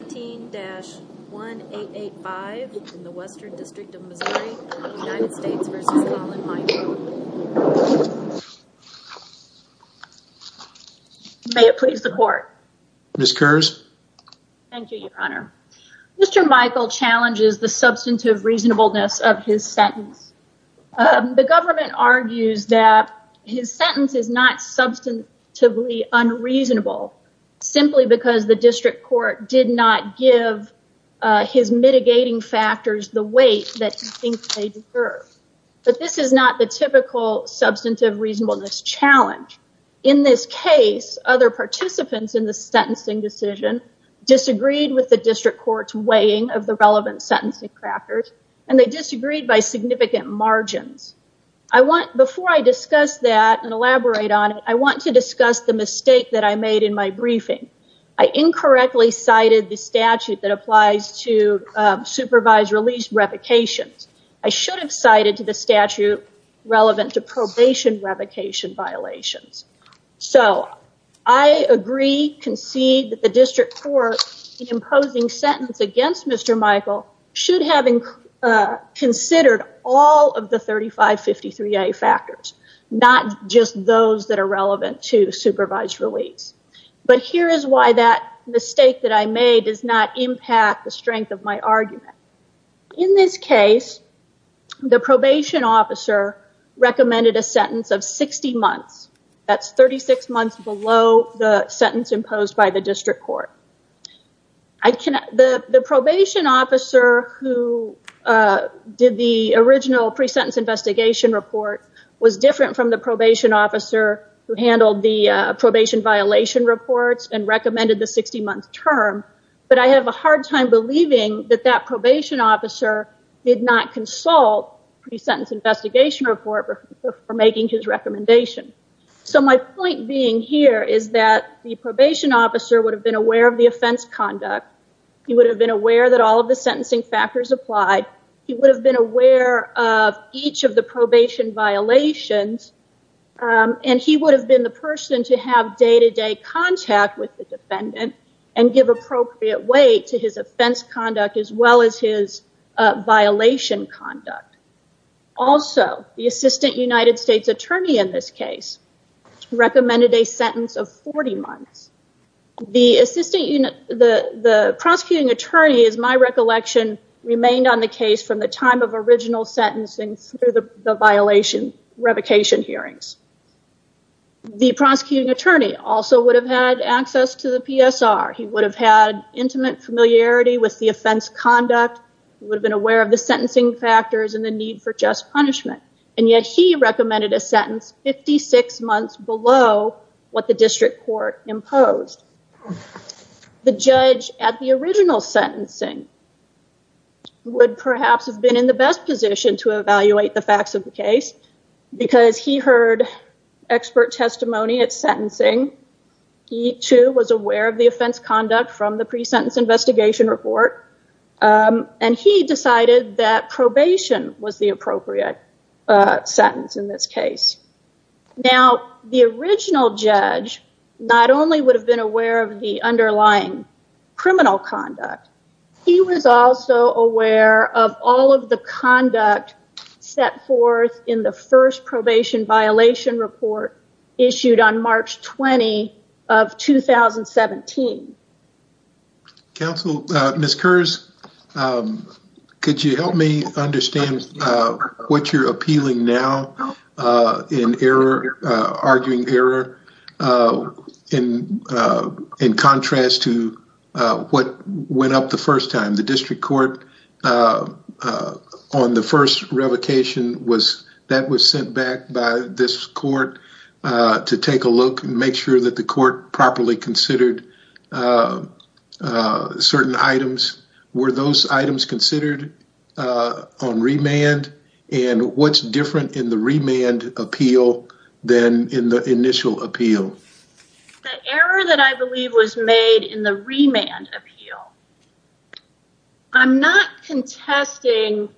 May it please the court. Ms. Kurz. Thank you, your honor. Mr. Michael challenges the substantive reasonableness of his sentence. The government argues that his sentence is not substantively unreasonable simply because the district court did not give his mitigating factors the weight that he thinks they deserve. But this is not the typical substantive reasonableness challenge. In this case other participants in the sentencing decision disagreed with the district court's weighing of the relevant sentencing factors and they disagreed by significant margins. I want before I discuss that and elaborate on it, I want to discuss the mistake that I made in my briefing. I incorrectly cited the statute that applies to supervised release revocations. I should have cited to the statute relevant to probation revocation violations. So I agree, concede that the district court imposing sentence against Mr. Michael should have considered all of the 3553A factors, not just those that are relevant to supervised release. But here is why that mistake that I made does not impact the strength of my argument. In this case the probation officer recommended a sentence of 60 months. That's 36 months below the sentence who did the original pre-sentence investigation report was different from the probation officer who handled the probation violation reports and recommended the 60-month term. But I have a hard time believing that that probation officer did not consult pre-sentence investigation report for making his recommendation. So my point being here is that the probation officer would have been aware of the offense conduct. He would have been aware that all of the sentencing factors applied. He would have been aware of each of the probation violations and he would have been the person to have day-to-day contact with the defendant and give appropriate weight to his offense conduct as well as his violation conduct. Also the assistant United States attorney in this case recommended a sentence of 40 months. The prosecuting attorney is my recollection remained on the case from the time of original sentencing through the violation revocation hearings. The prosecuting attorney also would have had access to the PSR. He would have had intimate familiarity with the offense conduct. He would have been aware of the sentencing factors and the need for just punishment and yet he recommended a the original sentencing would perhaps have been in the best position to evaluate the facts of the case because he heard expert testimony at sentencing. He too was aware of the offense conduct from the pre-sentence investigation report and he decided that probation was the appropriate sentence in this case. Now the original judge not only would have been aware of the underlying criminal conduct, he was also aware of all of the conduct set forth in the first probation violation report issued on March 20 of 2017. Counsel, Ms. Kurz, could you help me understand what you're appealing now in arguing error in contrast to what went up the first time? The district court on the first revocation was that was sent back by this court to take a look and make sure that the court properly considered certain items. Were those than in the initial appeal? The error that I believe was made in the remand appeal. I'm not contesting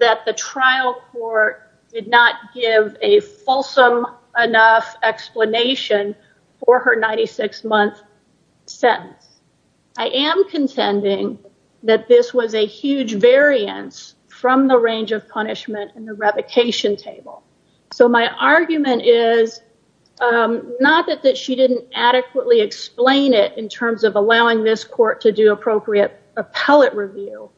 that the trial court did not give a fulsome enough explanation for her 96-month sentence. I am contending that this was a huge variance from the argument is not that that she didn't adequately explain it in terms of allowing this court to do appropriate appellate review,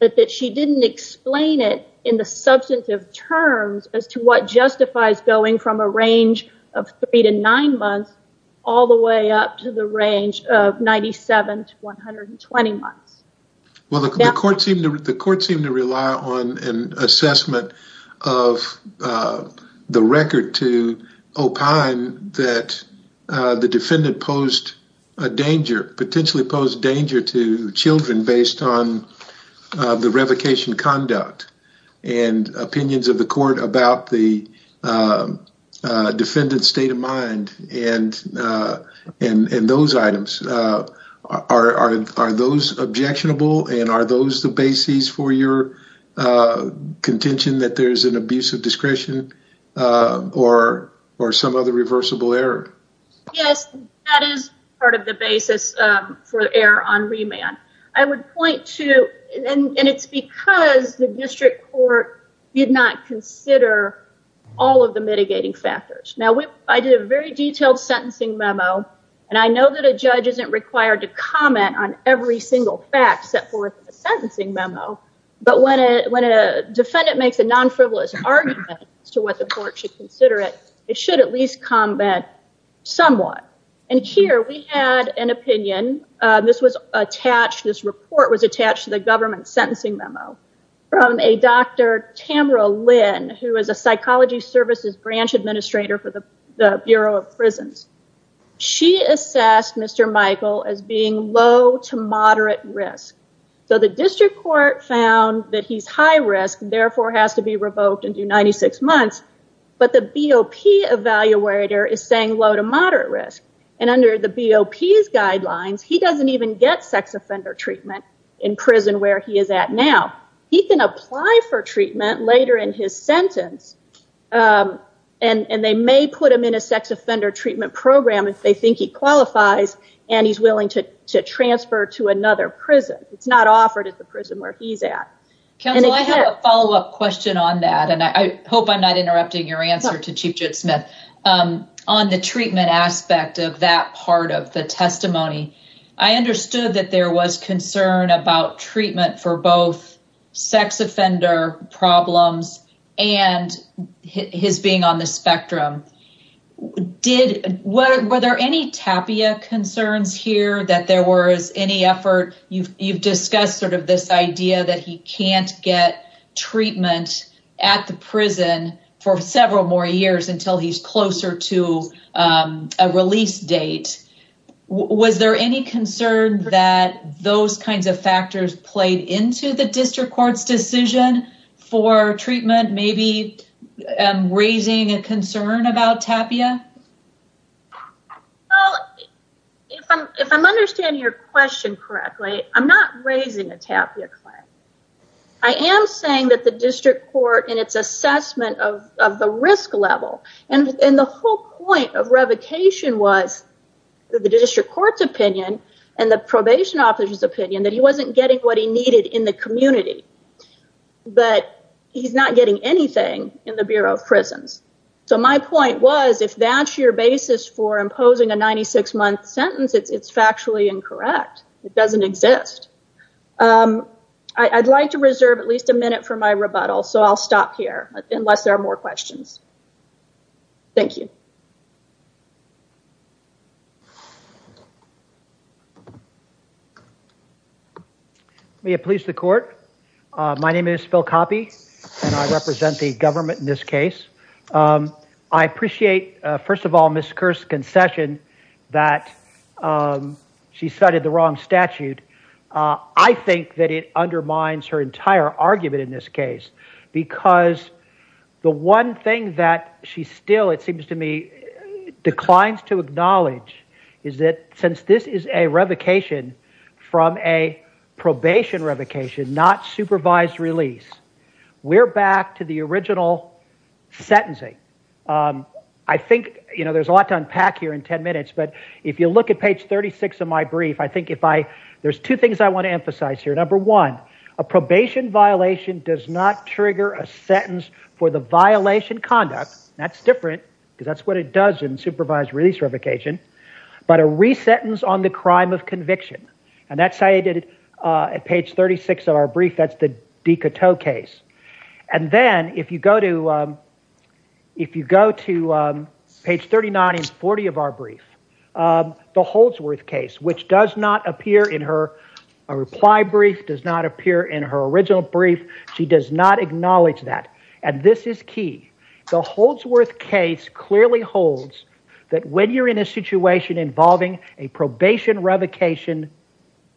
but that she didn't explain it in the substantive terms as to what justifies going from a range of three to nine months all the way up to the range of 97 to 120 months. Well, the court seemed to rely on an assessment of the record to opine that the defendant posed a danger, potentially posed danger to children based on the revocation conduct and opinions of the court about the those the basis for your contention that there's an abuse of discretion or some other reversible error? Yes, that is part of the basis for error on remand. I would point to, and it's because the district court did not consider all of the mitigating factors. Now, I did a very detailed sentencing memo and I know that the judge isn't required to comment on every single fact set forth in the sentencing memo, but when a defendant makes a non-frivolous argument as to what the court should consider it, it should at least comment somewhat. And here we had an opinion, this was attached, this report was attached to the government sentencing memo from a Dr. Tamara Lynn, who is a psychology services branch administrator for the Bureau of Prisons. She assessed Mr. Michael as being low to moderate risk. So the district court found that he's high risk, therefore has to be revoked and do 96 months, but the BOP evaluator is saying low to moderate risk. And under the BOP's guidelines, he doesn't even get sex offender treatment in prison where he is at now. He can apply for treatment later in his sentence and they may put him in a sex offender treatment program if they think he qualifies and he's willing to transfer to another prison. It's not offered at the prison where he's at. Counsel, I have a follow-up question on that and I hope I'm not interrupting your answer to Chief Judd Smith. On the treatment aspect of that part of the testimony, I understood that there was concern about treatment for both sex offender problems and his being on the spectrum. Were there any tapia concerns here that there was any effort? You've discussed sort of this idea that he can't get treatment at the prison for several more years until he's closer to a release date. Was there any concern that those kinds of factors played into the district court's decision for treatment, maybe raising a concern about tapia? Well, if I'm understanding your question correctly, I'm not raising a tapia claim. I am saying that the district court in its assessment of the risk level and the whole point of revocation was the district court's opinion and the probation officer's opinion that he wasn't getting what he needed in the community, but he's not getting anything in the Bureau of Prisons. So my point was if that's your basis for imposing a 96 month sentence, it's factually incorrect. It doesn't exist. I'd like to reserve at least a minute for my rebuttal, so I'll stop here unless there are more questions. Thank you. May it please the court. My name is Phil Coppe and I represent the government in this case. I appreciate, first of all, Ms. Kerr's concession that she cited the wrong statute. I think that it undermines her entire argument in this case because the one thing that she still, it seems to me, declines to acknowledge is that since this is a revocation from a probation revocation, not supervised release, we're back to the original sentencing. I think, you know, there's a lot to unpack here in 10 minutes, but if you look at page 36 of my brief, I think if I, there's two things I want to emphasize here. Number one, a probation violation does not trigger a sentence for the violation conduct. That's different because that's what it does in supervised release revocation, but a re-sentence on the crime of conviction, and that's how I did it at page 36 of our brief. That's the Dicoteau case, and then if you go to, if you go to page 39 and 40 of our brief, the Holdsworth case, which does not appear in her, a reply brief does not appear in her original brief. She does not acknowledge that, and this is key. The Holdsworth case clearly holds that when you're in a situation involving a probation revocation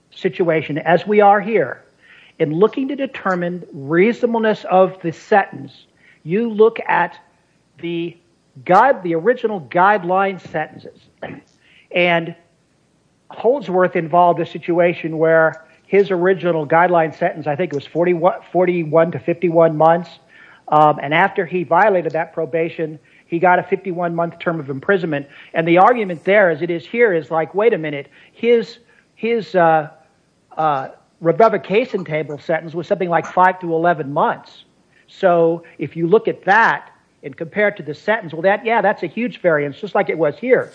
situation, as we are here, in looking to determine reasonableness of the sentence, you look at the guide, the original guideline sentences, and Holdsworth involved a situation where his original guideline sentence, I think it was 41 to 51 months, and after he violated that probation, he got a 51 month term of imprisonment, and the argument there is it is here, is like, wait a minute, his revocation table sentence was something like 5 to 11 months, so if you look at that and compare it to the sentence, well that, yeah, that's a huge variance, just like it was here,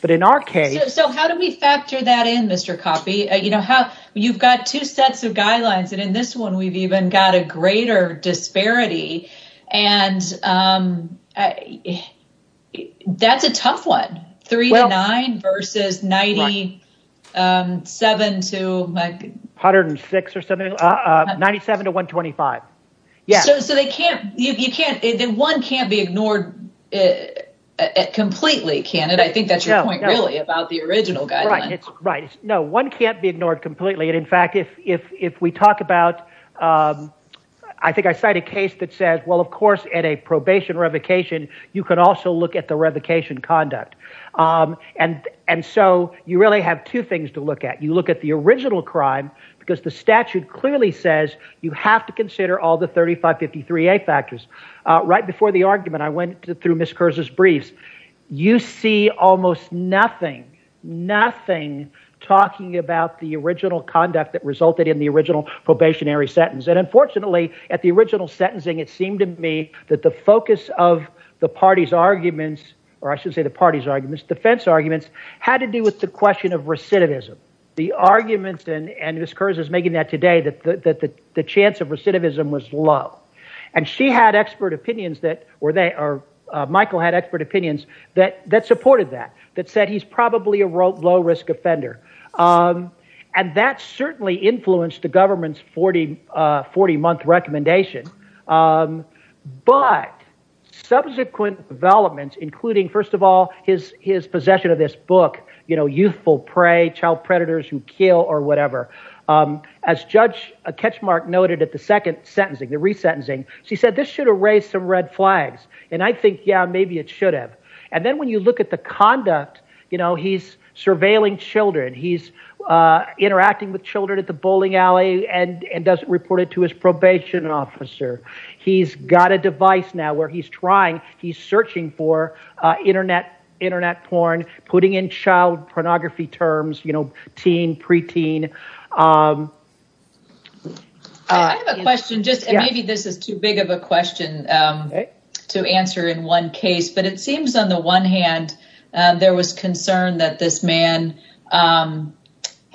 but in our case... So how do we factor that in, Mr. Coffey? You know, how, you've got two sets of guidelines, and in this one we've even got a greater disparity, and that's a tough one, 3 to 9 versus 97 to... 106 or something, 97 to 125, yeah. So they can't, you can't, one can't be ignored completely, can it? I think that's your point, really, about the original guideline. Right, no, one can't be ignored completely, and in fact, if we talk about, I think I cite a case that says, well, of course, at a probation revocation, you could also look at the revocation conduct, and so you really have two things to look at. You look at the original crime, because the statute clearly says you have to consider all the 3553A factors. Right before the argument, I went through Ms. Kurz's briefs. You see almost nothing, nothing talking about the original conduct that resulted in the original probationary sentence, and unfortunately, at the focus of the party's arguments, or I should say the party's arguments, defense arguments, had to do with the question of recidivism. The arguments, and Ms. Kurz is making that today, that the chance of recidivism was low, and she had expert opinions that, or they, or Michael had expert opinions that supported that, that said he's probably a low-risk offender, and that certainly influenced the government's 40-month recommendation, but subsequent developments, including, first of all, his possession of this book, you know, youthful prey, child predators who kill, or whatever. As Judge Ketchmark noted at the second sentencing, the resentencing, she said this should have raised some red flags, and I think, yeah, maybe it should have, and then when you look at the conduct, you know, he's surveilling children, he's interacting with children at the bowling alley, and doesn't report it to his probation officer. He's got a device now where he's trying, he's searching for internet porn, putting in child pornography terms, you know, teen, preteen. I have a question, just maybe this is too big of a question to answer in one case, but it seems on the one hand, there was concern that this man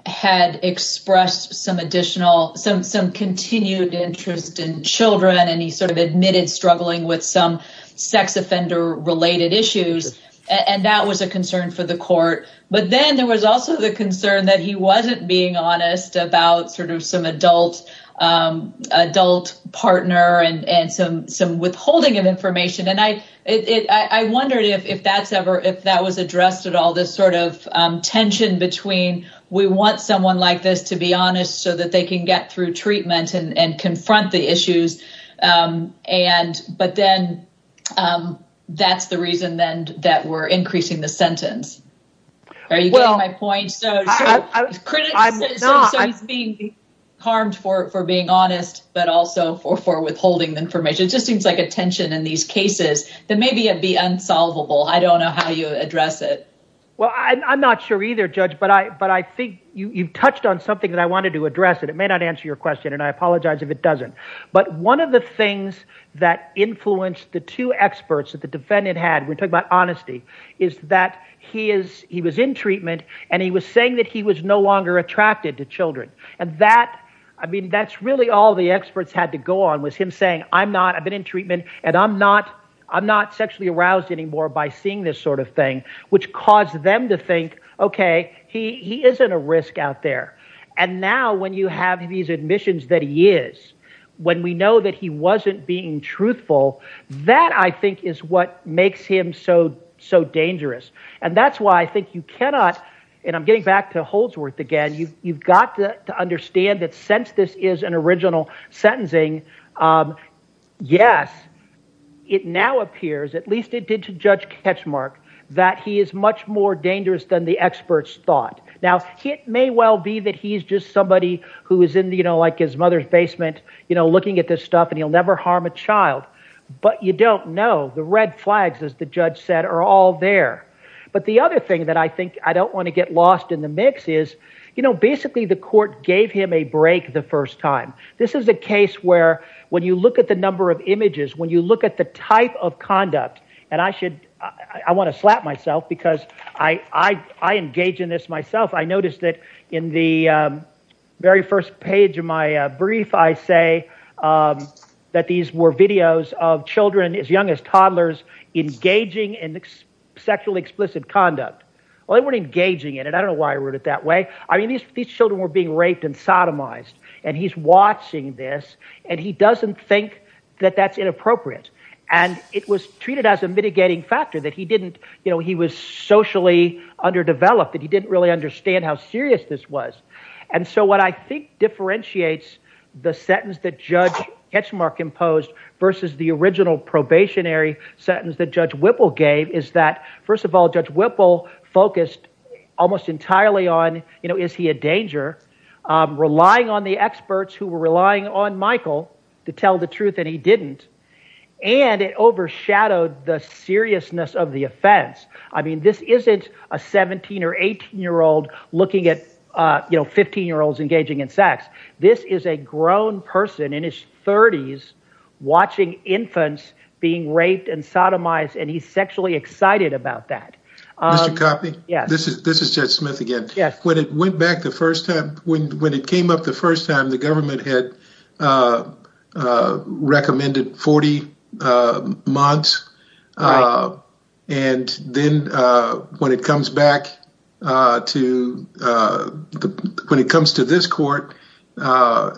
had expressed some additional, some continued interest in children, and he sort of admitted struggling with some sex offender-related issues, and that was a concern for the court, but then there was also the concern that he wasn't being honest about sort of some adult, adult partner, and some withholding of information, and I wondered if that's ever, if that was addressed at all, this sort of tension between we want someone like this to be honest so that they can get through treatment and confront the issues, but then that's the reason then that we're increasing the sentence. Are you getting my point? So he's being harmed for being honest, but also for withholding information. It just seems like a maybe it'd be unsolvable. I don't know how you address it. Well, I'm not sure either, Judge, but I think you've touched on something that I wanted to address, and it may not answer your question, and I apologize if it doesn't, but one of the things that influenced the two experts that the defendant had, we're talking about honesty, is that he was in treatment, and he was saying that he was no longer attracted to children, and that, I mean, that's really all the experts had to go on was him saying, I'm not, I've been in treatment, and I'm not sexually aroused anymore by seeing this sort of thing, which caused them to think, okay, he isn't a risk out there, and now when you have these admissions that he is, when we know that he wasn't being truthful, that I think is what makes him so dangerous, and that's why I think you cannot, and I'm getting back to Holdsworth again, you've got to understand that since this is an original sentencing, yes, it now appears, at least it did to Judge Ketchmark, that he is much more dangerous than the experts thought. Now, it may well be that he's just somebody who is in, you know, like his mother's basement, you know, looking at this stuff, and he'll never harm a child, but you don't know. The red flags, as the judge said, are all there. But the other thing that I think I don't want to get lost in the mix is, you know, basically the court gave him a break the first time. This is a case where, when you look at the number of images, when you look at the type of conduct, and I should, I want to slap myself because I engage in this myself, I noticed that in the very first page of my brief, I say that these were videos of children as young as toddlers engaging in sexually explicit conduct. Well, they weren't engaging in it, I don't know why I wrote it that way. I mean, these children were being raped and sodomized, and he's watching this, and he doesn't think that that's inappropriate. And it was treated as a mitigating factor that he didn't, you know, he was socially underdeveloped, that he didn't really understand how serious this was. And so what I think differentiates the sentence that Judge Ketchmark imposed versus the original probationary sentence that Judge Whipple gave is that, first of all, Judge Whipple focused almost entirely on, you know, is he a danger? Relying on the experts who were relying on Michael to tell the truth, and he didn't, and it overshadowed the seriousness of the offense. I mean, this isn't a 17 or 18 year old looking at you know, 15 year olds engaging in sex. This is a grown person in his 30s watching infants being raped and Mr. Coffey? Yes. This is Judge Smith again. Yes. When it went back the first time, when it came up the first time, the government had recommended 40 months, and then when it comes back to, when it comes to this court, now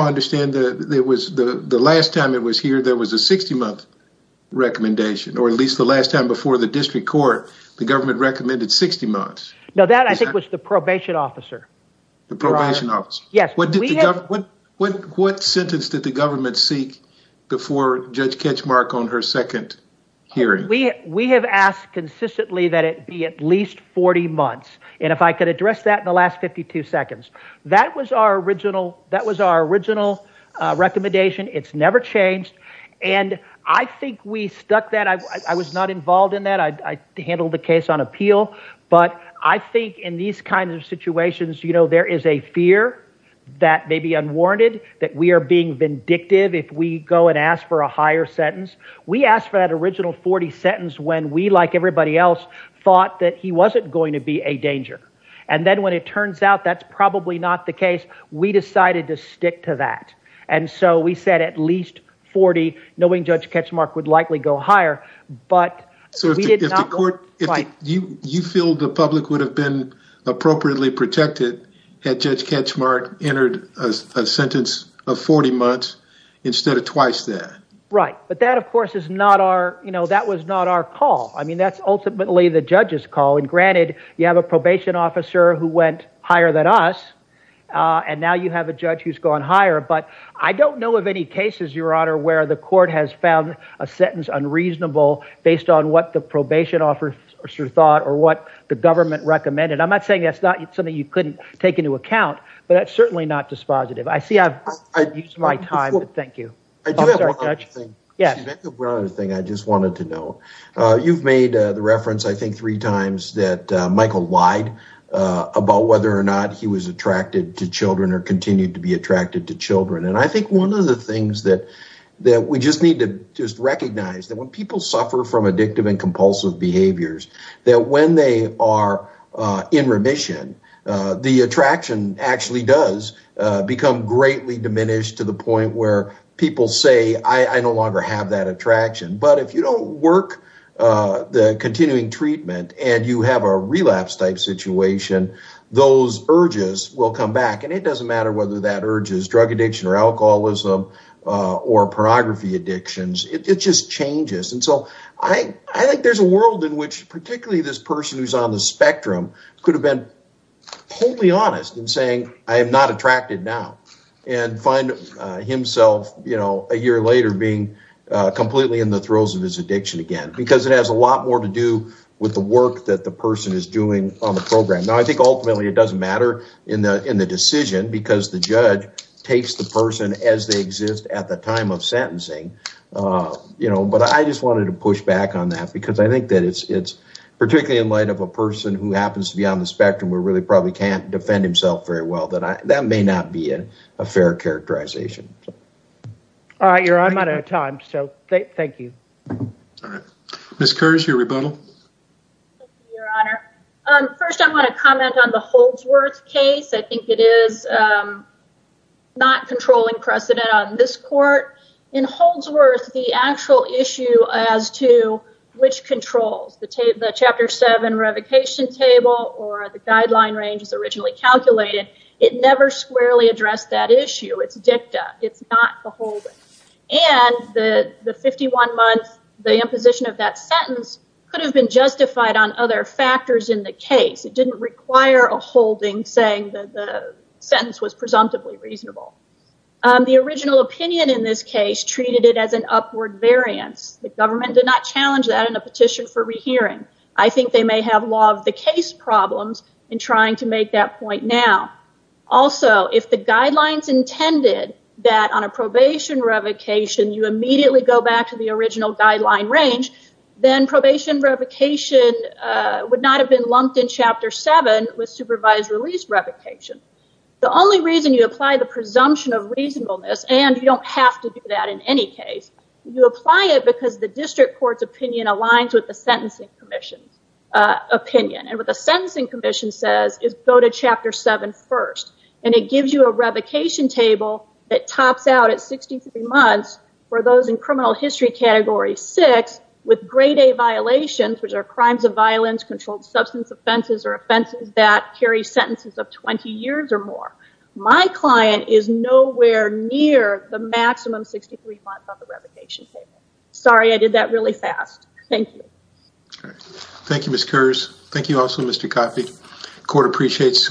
I understand that it was the last time it was here, there was a 60 month recommendation, or at least the last time before the district court, the government recommended 60 months. No, that I think was the probation officer. The probation officer. Yes. What sentence did the government seek before Judge Ketchmark on her second hearing? We have asked consistently that it be at least 40 months, and if I could address that in the last 52 seconds, that was our original recommendation. It's never changed. And I think we stuck that, I was not involved in that, I handled the case on appeal, but I think in these kinds of situations, you know, there is a fear that may be unwarranted that we are being vindictive if we go and ask for a higher sentence. We asked for that original 40 sentence when we, like everybody else, thought that he wasn't going to be a danger. And then when it turns out that's probably not the case, we decided to stick to that. And so we said at least 40, knowing Judge Ketchmark would likely go higher. But we did not want to fight. You feel the public would have been appropriately protected had Judge Ketchmark entered a sentence of 40 months instead of twice that? Right. But that of course is not our, you know, that was not our call. I mean, that's ultimately the judge's call. And granted, you have a probation officer who went higher than us, and now you have a judge who's gone higher. But I don't know of any cases, Your Honor, where the court has found a sentence unreasonable based on what the probation officer thought or what the government recommended. I'm not saying that's not something you couldn't take into account, but that's certainly not dispositive. I see I've used my time. Thank you. I do have one other thing I just wanted to know. You've made the reference, I think, three times that Michael lied about whether or not he was attracted to children or continued to be attracted to children. And I think one of the things that we just need to just recognize that when people suffer from addictive and compulsive behaviors, that when they are in remission, the attraction actually does become greatly diminished to the point where people say, I no longer have that attraction. But if you don't work the continuing treatment and you have a relapse type situation, those urges will come back. And it doesn't matter whether that urge is drug addiction or alcoholism or pornography addictions. It just changes. And so I think there's a world in which particularly this person who's on the spectrum could have been wholly honest in saying, I am not attracted now and find himself, you know, a year later being completely in the throes of his addiction again, because it has a lot more to do with the work that the person is doing on the program. Now, I think ultimately it doesn't matter in the decision because the judge takes the person as they exist at the time of sentencing. You know, but I just wanted to push back on that because I think that it's particularly in light of a person who happens to be on the spectrum where really probably can't defend himself very well, that may not be a fair characterization. All right, your honor, I'm out of time. So thank you. All right. Ms. Kurz, your rebuttal. Your honor. First I want to comment on the Holdsworth case. I think it is not controlling precedent on this court. In Holdsworth, the actual issue as to which controls, the chapter 7 revocation table or the guideline range as originally calculated, it never squarely addressed that issue. It's dicta. It's not beholden. And the 51 months, the imposition of that sentence could have been justified on other factors in the case. It didn't require a holding saying that the sentence was presumptively reasonable. The original opinion in this case treated it as an upward variance. The government did not challenge that in a petition for rehearing. I think they may have law of the case problems in trying to make that point now. Also, if the guidelines intended that on a probation revocation, you immediately go back to the original guideline range, then probation revocation would not have been lumped in chapter 7 with supervised release revocation. The only reason you apply the presumption of reasonableness, and you don't have to do that in any case, you apply it because the district court's opinion aligns with the sentencing commission's opinion. And what the sentencing commission says is go to chapter 7 first. And it gives you a revocation table that tops out at 63 months for those in criminal history category 6 with grade A violations, which are crimes of violence, controlled substance offenses, or offenses that carry sentences of 20 years or more. My client is nowhere near the maximum 63 months on the revocation table. Sorry, I did that really fast. Thank you. Thank you, Ms. Kearse. Thank you also, Mr. Coffey. The court appreciates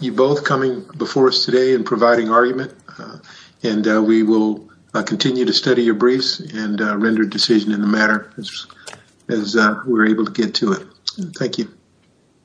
you both coming before us today and providing argument, and we will continue to study your briefs and render a decision in the matter as we're able to get to it. Thank you.